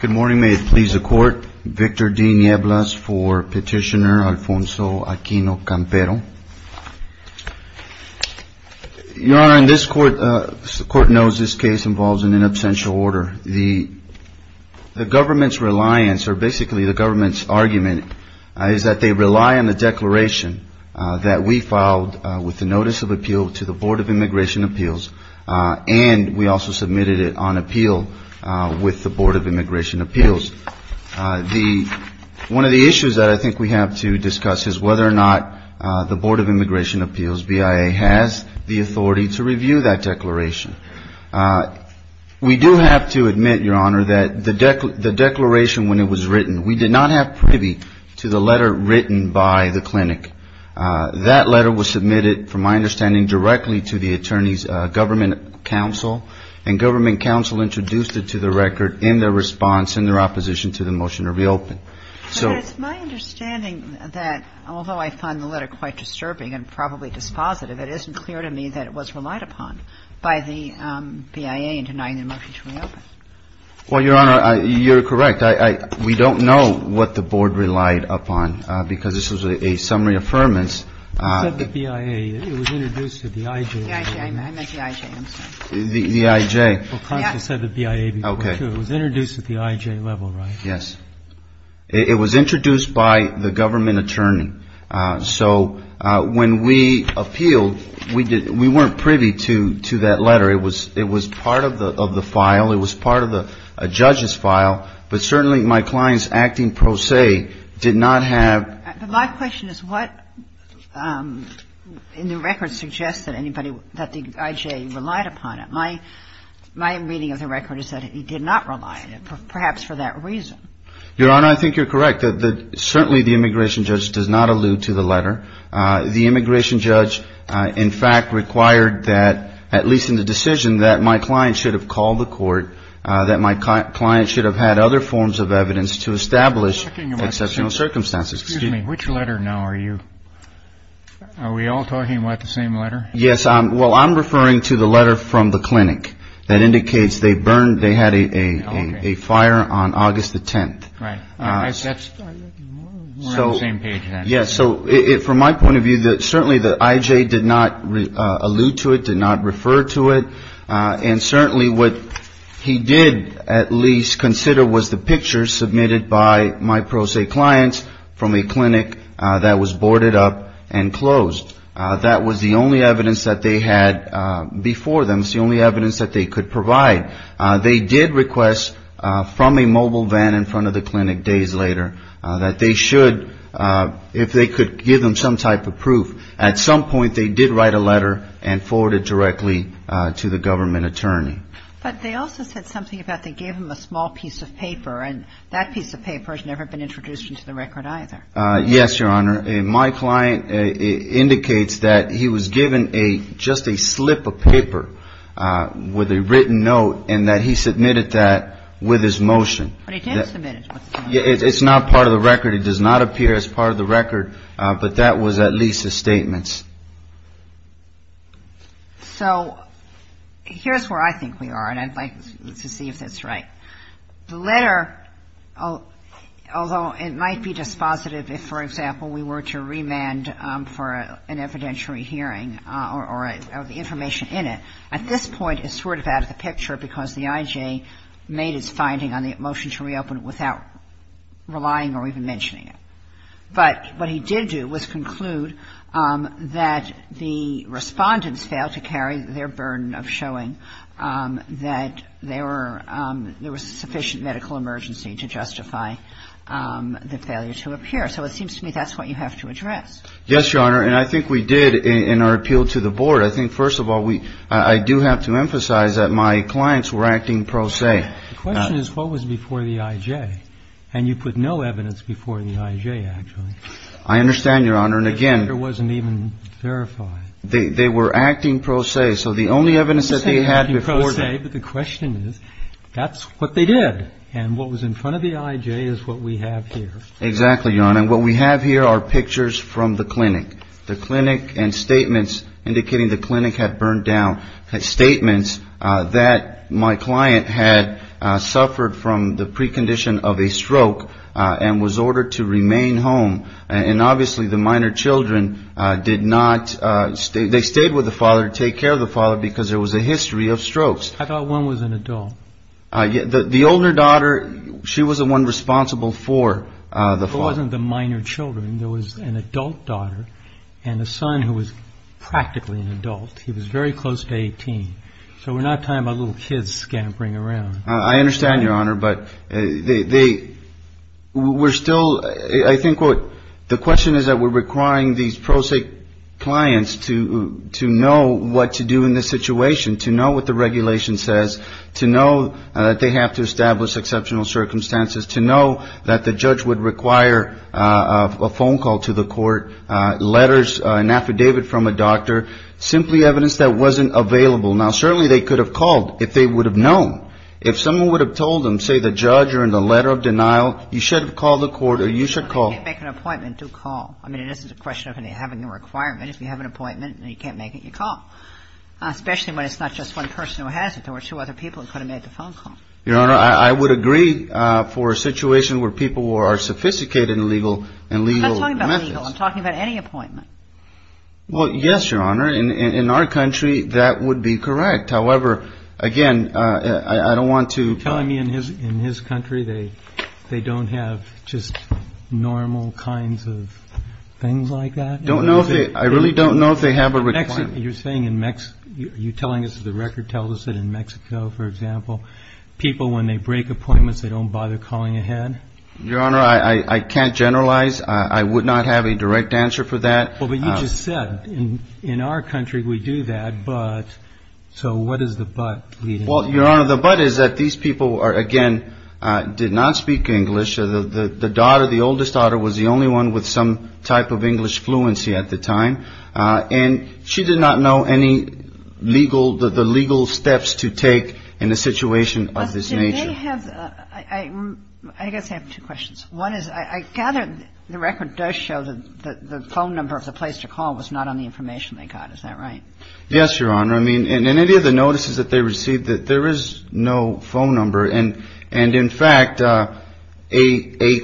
Good morning. May it please the Court, Victor D. Nieblas for Petitioner Alfonso Aquino-Campero. Your Honor, as the Court knows, this case involves an inabsential order. The government's reliance, or basically the government's argument, is that they rely on the declaration that we filed with the Notice of Appeal to the Board of Immigration Appeals, and we also submitted it on appeal with the Board of Immigration Appeals. One of the issues that I think we have to discuss is whether or not the Board of Immigration Appeals, BIA, has the authority to review that declaration. We do have to admit, Your Honor, that the declaration when it was written, we did not have privy to the letter written by the clinic. That letter was submitted, from my understanding, directly to the Attorney's Government Counsel, and Government Counsel introduced it to the record in their response, in their opposition to the motion to reopen. So — But it's my understanding that, although I find the letter quite disturbing and probably dispositive, it isn't clear to me that it was relied upon by the BIA in denying the motion to reopen. Well, Your Honor, you're correct. We don't know what the Board relied upon, because this was a summary affirmance. It said the BIA. It was introduced at the IJ level. The IJ. I meant the IJ. The IJ. Well, Congress said the BIA before, too. Okay. It was introduced at the IJ level, right? Yes. It was introduced by the government attorney. So when we appealed, we weren't privy to that letter. It was part of the file. It was part of the judge's file. But certainly my client's acting pro se did not have — But my question is what in the record suggests that anybody — that the IJ relied upon it? My reading of the record is that it did not rely on it, perhaps for that reason. Your Honor, I think you're correct. Certainly the immigration judge does not allude to the letter. The immigration judge, in fact, required that, at least in the decision, that my client should have called the court, that my client should have had other forms of evidence to establish exceptional circumstances. Excuse me. Which letter now are you — are we all talking about the same letter? Yes. Well, I'm referring to the letter from the clinic that indicates they burned — they had a fire on August the 10th. Right. We're on the same page then. Yes. So from my point of view, certainly the IJ did not allude to it, did not refer to it. And certainly what he did at least consider was the picture submitted by my pro se clients from a clinic that was boarded up and closed. That was the only evidence that they had before them. It was the only evidence that they could provide. They did request from a mobile van in front of the clinic days later that they should — if they could give them some type of proof. At some point they did write a letter and forward it directly to the government attorney. But they also said something about they gave him a small piece of paper, and that piece of paper has never been introduced into the record either. Yes, Your Honor. My client indicates that he was given a — just a slip of paper with a written note and that he submitted that with his motion. But he did submit it. It's not part of the record. It does not appear as part of the record. But that was at least his statements. So here's where I think we are, and I'd like to see if that's right. The letter, although it might be dispositive if, for example, we were to remand for an evidentiary hearing or the information in it, at this point is sort of out of the picture because the I.J. made his finding on the motion to reopen it without relying or even mentioning it. But what he did do was conclude that the respondents failed to carry their burden of showing that they were — there was sufficient medical emergency to justify the failure to appear. So it seems to me that's what you have to address. Yes, Your Honor. And I think we did in our appeal to the board. I think, first of all, we — I do have to emphasize that my clients were acting pro se. The question is, what was before the I.J.? And you put no evidence before the I.J., actually. I understand, Your Honor. And again — It wasn't even verified. They were acting pro se. Okay. So the only evidence that they had before — They weren't acting pro se, but the question is, that's what they did. And what was in front of the I.J. is what we have here. Exactly, Your Honor. And what we have here are pictures from the clinic, the clinic and statements indicating the clinic had burned down, statements that my client had suffered from the precondition of a stroke and was ordered to remain home. And obviously the minor children did not — they stayed with the father, take care of the father because there was a history of strokes. I thought one was an adult. The older daughter, she was the one responsible for the father. It wasn't the minor children. There was an adult daughter and a son who was practically an adult. He was very close to 18. So we're not talking about little kids scampering around. I understand, Your Honor, but they were still — I think what the question is, that we're requiring these pro se clients to know what to do in this situation, to know what the regulation says, to know that they have to establish exceptional circumstances, to know that the judge would require a phone call to the court, letters, an affidavit from a doctor, simply evidence that wasn't available. Now, certainly they could have called if they would have known. If someone would have told them, say, the judge or in the letter of denial, you should have called the court or you should call. If you can't make an appointment, do call. I mean, it isn't a question of having a requirement. If you have an appointment and you can't make it, you call, especially when it's not just one person who has it. There were two other people who could have made the phone call. Your Honor, I would agree for a situation where people are sophisticated in legal methods. I'm not talking about legal. I'm talking about any appointment. Well, yes, Your Honor. In our country, that would be correct. However, again, I don't want to ---- You're telling me in his country they don't have just normal kinds of things like that? I don't know if they ---- I really don't know if they have a requirement. You're saying in Mexico. Are you telling us that the record tells us that in Mexico, for example, people, when they break appointments, they don't bother calling ahead? Your Honor, I can't generalize. I would not have a direct answer for that. Well, but you just said in our country we do that. But so what is the but? Well, Your Honor, the but is that these people are, again, did not speak English. The daughter, the oldest daughter, was the only one with some type of English fluency at the time. And she did not know any legal, the legal steps to take in a situation of this nature. I guess I have two questions. One is I gather the record does show that the phone number of the place to call was not on the information they got. Is that right? Yes, Your Honor. I mean, in any of the notices that they received, there is no phone number. And in fact, a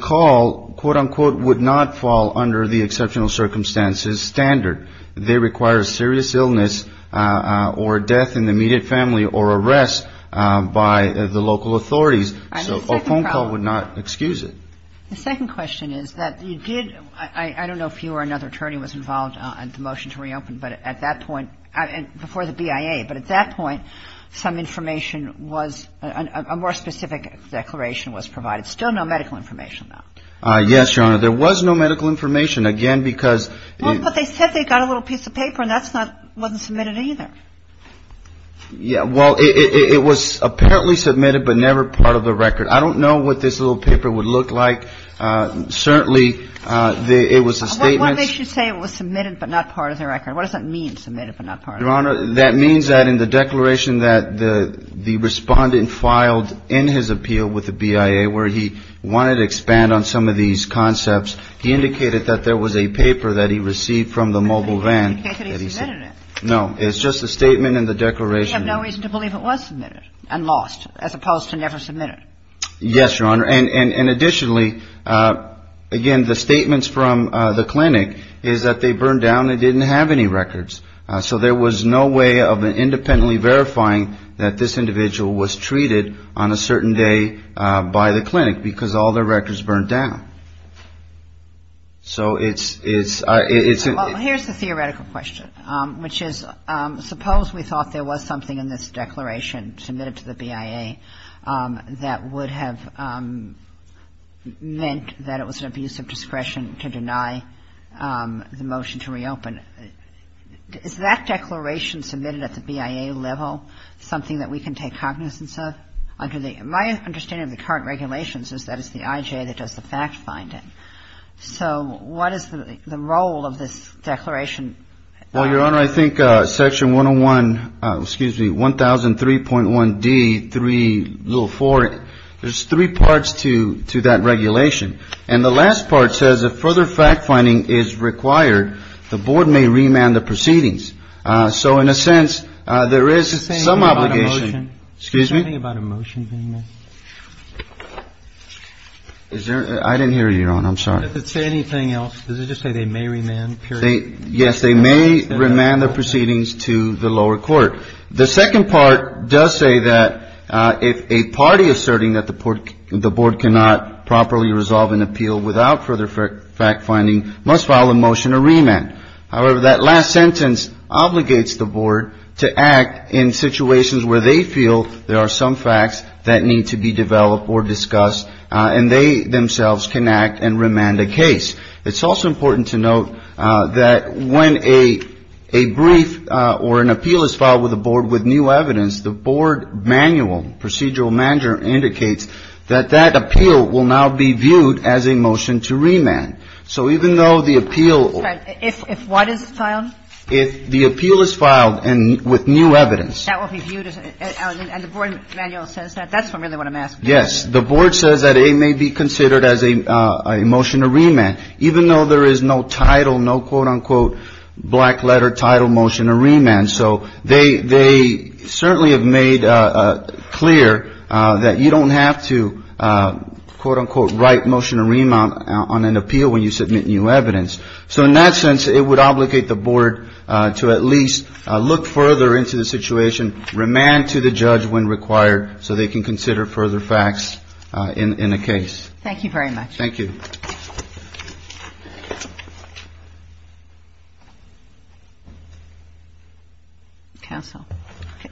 call, quote, unquote, would not fall under the exceptional circumstances standard. They require a serious illness or death in the immediate family or arrest by the local authorities. So a phone call would not excuse it. The second question is that you did, I don't know if you or another attorney was involved in the motion to reopen, but at that point, before the BIA, but at that point, some information was, a more specific declaration was provided. Still no medical information, though. Yes, Your Honor. There was no medical information, again, because. Well, but they said they got a little piece of paper, and that's not, wasn't submitted either. Yeah. Well, it was apparently submitted, but never part of the record. I don't know what this little paper would look like. Certainly, it was a statement. What makes you say it was submitted, but not part of the record? What does that mean, submitted, but not part of the record? Your Honor, that means that in the declaration that the Respondent filed in his appeal with the BIA, where he wanted to expand on some of these concepts, he indicated that there was a paper that he received from the mobile van. He indicated he submitted it. No. It's just a statement in the declaration. We have no reason to believe it was submitted and lost, as opposed to never submitted. Yes, Your Honor. And additionally, again, the statements from the clinic is that they burned down and didn't have any records. So there was no way of independently verifying that this individual was treated on a certain day by the clinic, because all their records burned down. So it's, it's, it's. Well, here's the theoretical question, which is, suppose we thought there was something in this declaration submitted to the BIA that would have meant that it was an abuse of discretion to deny the motion to reopen. Is that declaration submitted at the BIA level something that we can take cognizance of? My understanding of the current regulations is that it's the IJA that does the fact-finding. So what is the role of this declaration? Well, Your Honor, I think Section 101, excuse me, 1003.1D.3.4, there's three parts to that regulation. And the last part says if further fact-finding is required, the board may remand the proceedings. So in a sense, there is some obligation. Excuse me? Is there anything about a motion being made? Is there? I didn't hear you, Your Honor. I'm sorry. Does it say anything else? Does it just say they may remand, period? Yes, they may remand the proceedings to the lower court. The second part does say that if a party asserting that the board cannot properly resolve an appeal without further fact-finding must file a motion to remand. However, that last sentence obligates the board to act in situations where they feel there are some facts that need to be developed or discussed, and they themselves can act and remand a case. It's also important to note that when a brief or an appeal is filed with a board with new evidence, the board manual, procedural manual, indicates that that appeal will now be viewed as a motion to remand. So even though the appeal or the appeal is filed with new evidence. And the board manual says that. That's really what I'm asking. Yes. The board says that it may be considered as a motion to remand, even though there is no title, no, quote, unquote, black letter title motion to remand. So they certainly have made clear that you don't have to, quote, unquote, write motion to remand on an appeal when you submit new evidence. So in that sense, it would obligate the board to at least look further into the situation, remand to the judge when required so they can consider further facts in a case. Thank you very much. Thank you. Counsel.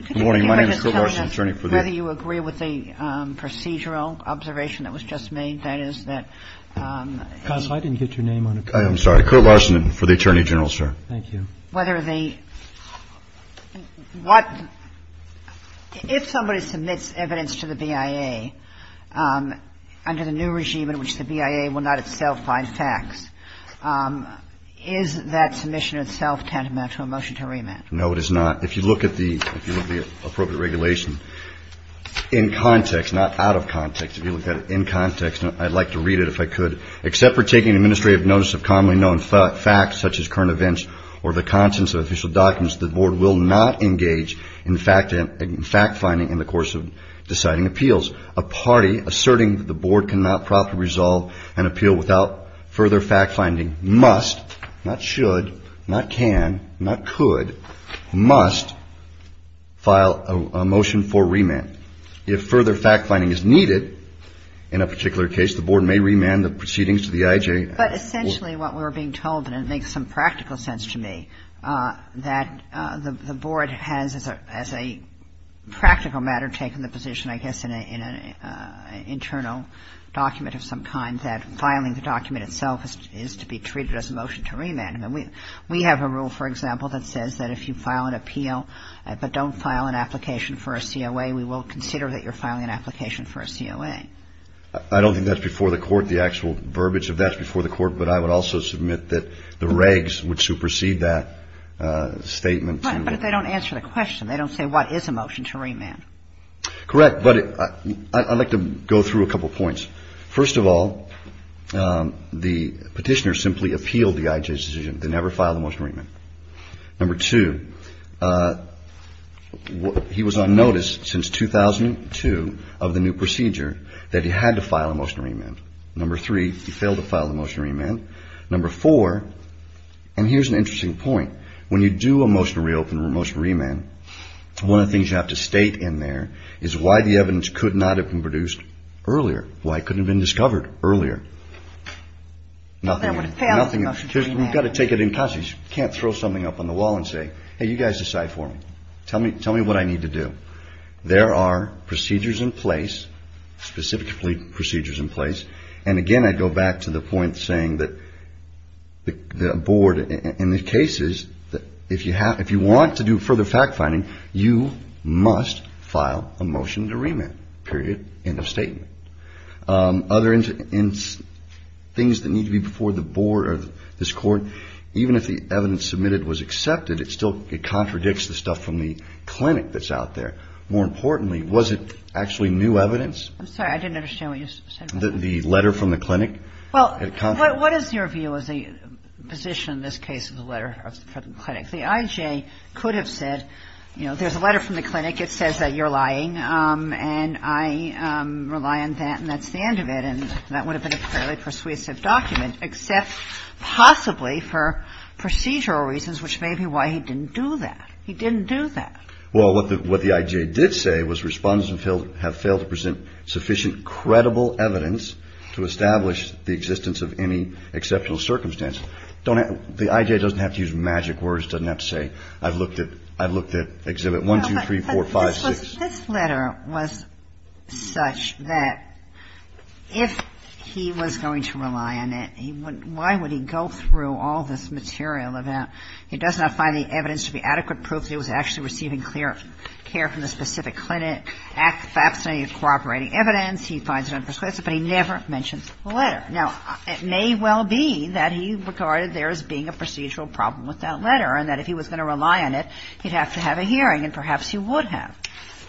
Good morning. My name is Joe Larson, attorney for the court. Whether you agree with the procedural observation that was just made, that is that. Counsel, I didn't get your name on it. I'm sorry. Kurt Larson for the attorney general, sir. Thank you. Whether the, what, if somebody submits evidence to the BIA under the new regime in which the BIA will not itself find facts, is that submission itself tantamount to a motion to remand? No, it is not. If you look at the appropriate regulation in context, not out of context, if you look I'd like to read it if I could. Except for taking administrative notice of commonly known facts such as current events or the contents of official documents, the board will not engage in fact-finding in the course of deciding appeals. A party asserting that the board cannot properly resolve an appeal without further fact-finding must, not should, not can, not could, must file a motion for remand. If further fact-finding is needed in a particular case, the board may remand the proceedings to the IJ. But essentially what we're being told, and it makes some practical sense to me, that the board has as a practical matter taken the position, I guess, in an internal document of some kind, that filing the document itself is to be treated as a motion to remand. And we have a rule, for example, that says that if you file an appeal but don't file an application for a COA, we will consider that you're filing an application for a COA. I don't think that's before the Court, the actual verbiage of that's before the Court, but I would also submit that the regs would supersede that statement. But they don't answer the question. They don't say what is a motion to remand. Correct. But I'd like to go through a couple of points. First of all, the Petitioner simply appealed the IJ's decision. They never filed a motion to remand. Number two, he was on notice since 2002 of the new procedure that he had to file a motion to remand. Number three, he failed to file a motion to remand. Number four, and here's an interesting point, when you do a motion to reopen or a motion to remand, one of the things you have to state in there is why the evidence could not have been produced earlier, why it couldn't have been discovered earlier. Nothing else. You've got to take it in custody. You can't throw something up on the wall and say, hey, you guys decide for me. Tell me what I need to do. There are procedures in place, specifically procedures in place, and again, I go back to the point saying that the Board, in the cases, if you want to do further fact-finding, you must file a motion to remand, period, end of statement. Other things that need to be before the Board or this Court, even if the evidence submitted was accepted, it still contradicts the stuff from the clinic that's out there. More importantly, was it actually new evidence? I'm sorry. I didn't understand what you said. The letter from the clinic? Well, what is your view as a physician in this case of the letter from the clinic? The IJ could have said, you know, there's a letter from the clinic. It says that you're lying, and I rely on that, and that's the end of it, and that would have been a fairly persuasive document, except possibly for procedural reasons, which may be why he didn't do that. He didn't do that. Well, what the IJ did say was respondents have failed to present sufficient credible evidence to establish the existence of any exceptional circumstance. The IJ doesn't have to use magic words. It doesn't have to say, I've looked at Exhibit 1, 2, 3, 4, 5. This letter was such that if he was going to rely on it, why would he go through all this material of that? He does not find the evidence to be adequate proof that he was actually receiving clear care from the specific clinic. He finds it unpersuasive, but he never mentions the letter. Now, it may well be that he regarded there as being a procedural problem with that letter, and that if he was going to rely on it, he'd have to have a hearing, and perhaps he would have.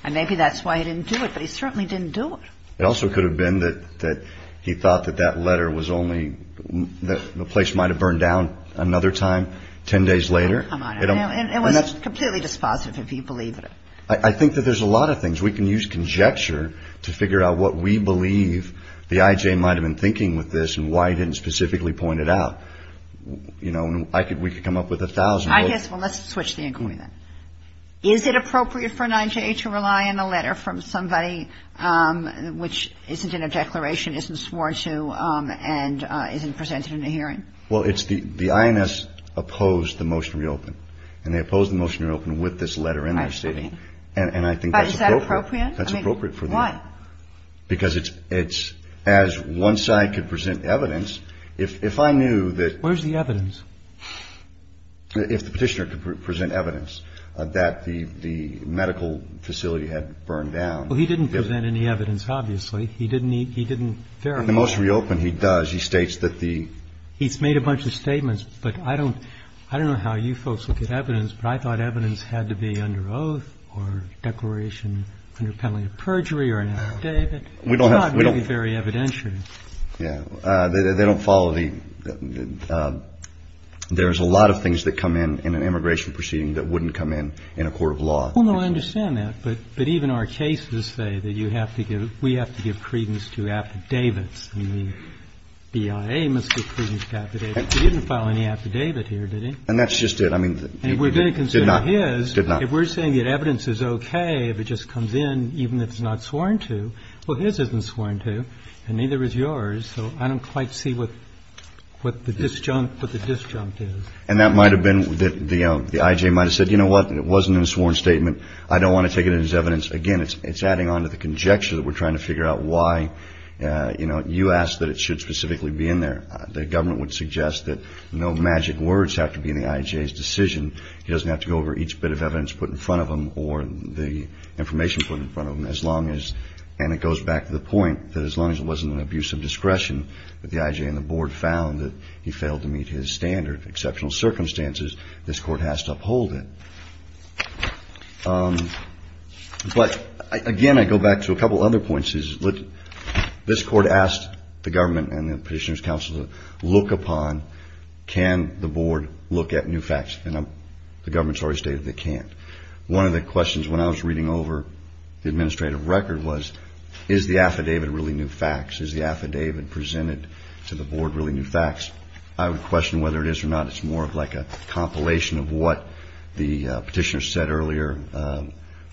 And maybe that's why he didn't do it, but he certainly didn't do it. It also could have been that he thought that that letter was only, the place might have burned down another time 10 days later. Oh, come on. It was completely dispositive if he believed it. I think that there's a lot of things. We can use conjecture to figure out what we believe the IJ might have been thinking with this and why he didn't specifically point it out. You know, we could come up with a thousand. I guess, well, let's switch the inquiry then. Is it appropriate for an IJ to rely on a letter from somebody which isn't in a declaration, isn't sworn to, and isn't presented in a hearing? Well, it's the INS opposed the motion to reopen. And they opposed the motion to reopen with this letter in there sitting. I agree. And I think that's appropriate. But is that appropriate? That's appropriate for them. Why? If I knew that. Where's the evidence? If the petitioner could present evidence that the medical facility had burned down. Well, he didn't present any evidence, obviously. He didn't. He didn't. In the motion to reopen, he does. He states that the. He's made a bunch of statements. But I don't know how you folks look at evidence. But I thought evidence had to be under oath or declaration under penalty of perjury or an affidavit. We don't have. It's not very evidentiary. Yeah. They don't follow the. There's a lot of things that come in in an immigration proceeding that wouldn't come in in a court of law. Well, no, I understand that. But even our cases say that you have to give. We have to give credence to affidavits. And the BIA must give credence to affidavits. He didn't file any affidavit here, did he? And that's just it. I mean. And we're going to consider his. Did not. If we're saying that evidence is OK, if it just comes in, even if it's not sworn to. Well, his isn't sworn to. And neither is yours. So I don't quite see what the disjunct, what the disjunct is. And that might have been that the I.J. might have said, you know what? It wasn't in a sworn statement. I don't want to take it in as evidence. Again, it's adding on to the conjecture that we're trying to figure out why, you know, you asked that it should specifically be in there. The government would suggest that no magic words have to be in the I.J.'s decision. He doesn't have to go over each bit of evidence put in front of him or the information put in front of him as long as, and it goes back to the point, that as long as it wasn't an abuse of discretion that the I.J. and the board found that he failed to meet his standard, exceptional circumstances, this court has to uphold it. But, again, I go back to a couple other points. This court asked the government and the Petitioner's Council to look upon, can the board look at new facts? And the government's already stated they can't. One of the questions when I was reading over the administrative record was, is the affidavit really new facts? Is the affidavit presented to the board really new facts? I would question whether it is or not. It's more of like a compilation of what the Petitioner said earlier.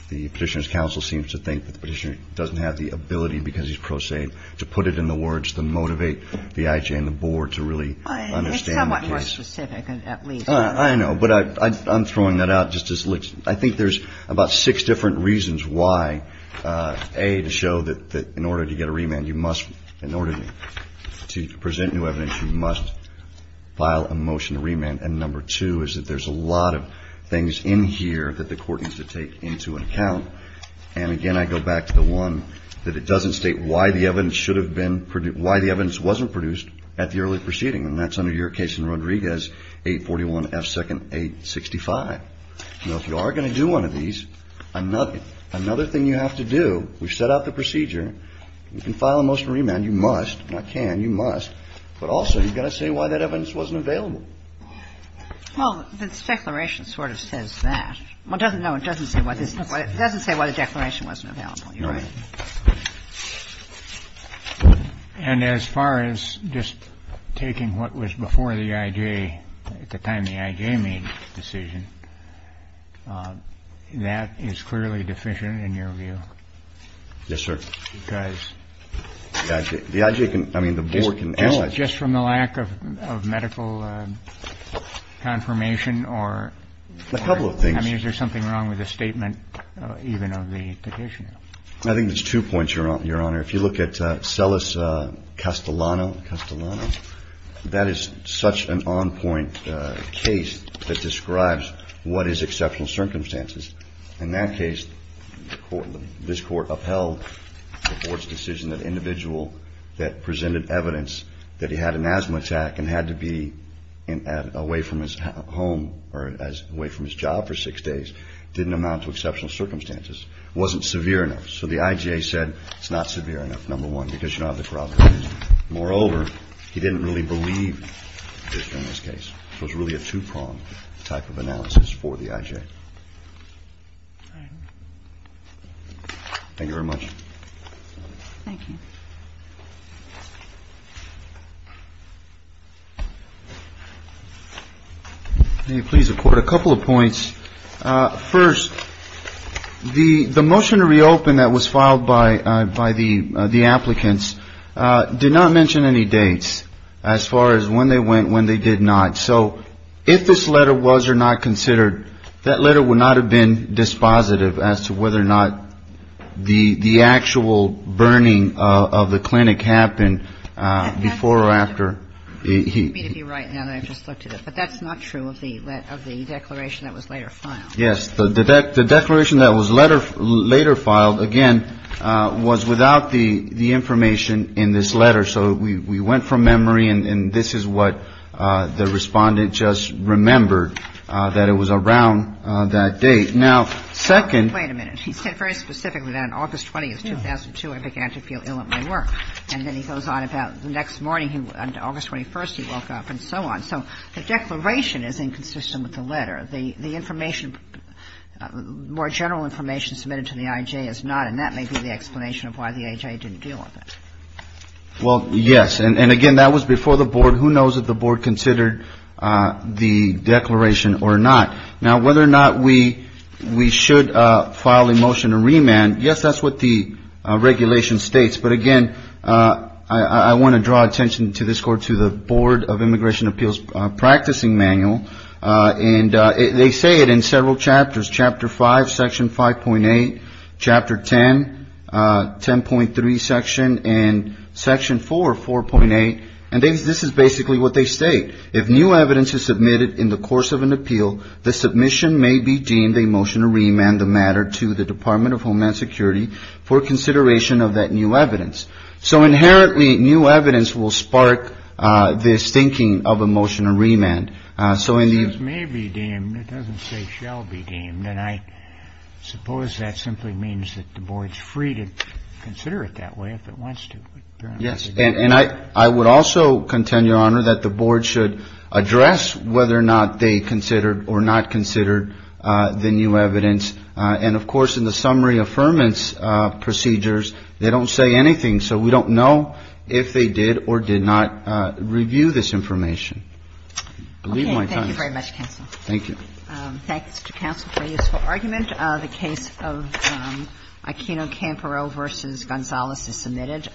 The Petitioner's Council seems to think that the Petitioner doesn't have the ability, because he's prosaic, to put it in the words to motivate the I.J. and the board to really understand the case. It's somewhat more specific, at least. I know. But I'm throwing that out just as, I think there's about six different reasons why, A, to show that in order to get a remand, in order to present new evidence, you must file a motion to remand. And number two is that there's a lot of things in here that the court needs to take into account. And, again, I go back to the one that it doesn't state why the evidence wasn't produced at the early proceeding. And that's under your case in Rodriguez, 841 F. 2nd 865. Now, if you are going to do one of these, another thing you have to do, we've set up the procedure. You can file a motion to remand. You must. Not can. You must. But also, you've got to say why that evidence wasn't available. Well, the declaration sort of says that. Well, no, it doesn't say why the declaration wasn't available. You're right. And as far as just taking what was before the I.J. at the time the I.J. made the decision, that is clearly deficient in your view? Yes, sir. Because? The I.J. can, I mean, the board can ask that. Just from the lack of medical confirmation or? A couple of things. I mean, is there something wrong with the statement even of the petitioner? I think there's two points, Your Honor. If you look at Celis Castellano, Castellano, that is such an on-point case that describes what is exceptional circumstances. In that case, this court upheld the board's decision that an individual that presented evidence that he had an asthma attack and had to be away from his home or away from his job for six days didn't amount to exceptional circumstances, wasn't severe enough. So the I.J. said it's not severe enough, number one, because you don't have the corroboration. Moreover, he didn't really believe this in this case. So it's really a two-prong type of analysis for the I.J. Thank you very much. Thank you. Can you please report a couple of points? First, the motion to reopen that was filed by the applicants did not mention any dates as far as when they went, when they did not. So if this letter was or not considered, that letter would not have been dispositive as to whether or not the actual burning of the clinic happened before or after. You need me to be right now that I've just looked at it. But that's not true of the declaration that was later filed. Yes. The declaration that was later filed, again, was without the information in this letter. So we went from memory, and this is what the Respondent just remembered, that it was around that date. Now, second — Wait a minute. He said very specifically that on August 20th, 2002, I began to feel ill at my work. And then he goes on about the next morning, August 21st, he woke up and so on. So the declaration is inconsistent with the letter. The information, more general information submitted to the I.J. is not. And that may be the explanation of why the I.J. didn't deal with it. Well, yes. And, again, that was before the Board. Who knows if the Board considered the declaration or not. Now, whether or not we should file a motion to remand, yes, that's what the regulation states. But, again, I want to draw attention to this court, to the Board of Immigration Appeals Practicing Manual. And they say it in several chapters, Chapter 5, Section 5.8, Chapter 10, 10.3 Section, and Section 4, 4.8. And this is basically what they state. If new evidence is submitted in the course of an appeal, the submission may be deemed a motion to remand the matter to the Department of Homeland Security for consideration of that new evidence. So, inherently, new evidence will spark this thinking of a motion to remand. It may be deemed. It doesn't say shall be deemed. And I suppose that simply means that the Board's free to consider it that way if it wants to. Yes. And I would also contend, Your Honor, that the Board should address whether or not they considered or not considered the new evidence. And, of course, in the summary affirmance procedures, they don't say anything. So we don't know if they did or did not review this information. Believe my time. Okay. Thank you very much, counsel. Thank you. Thank you, Mr. Counsel, for your useful argument. The case of Aquino-Campero v. Gonzalez is submitted.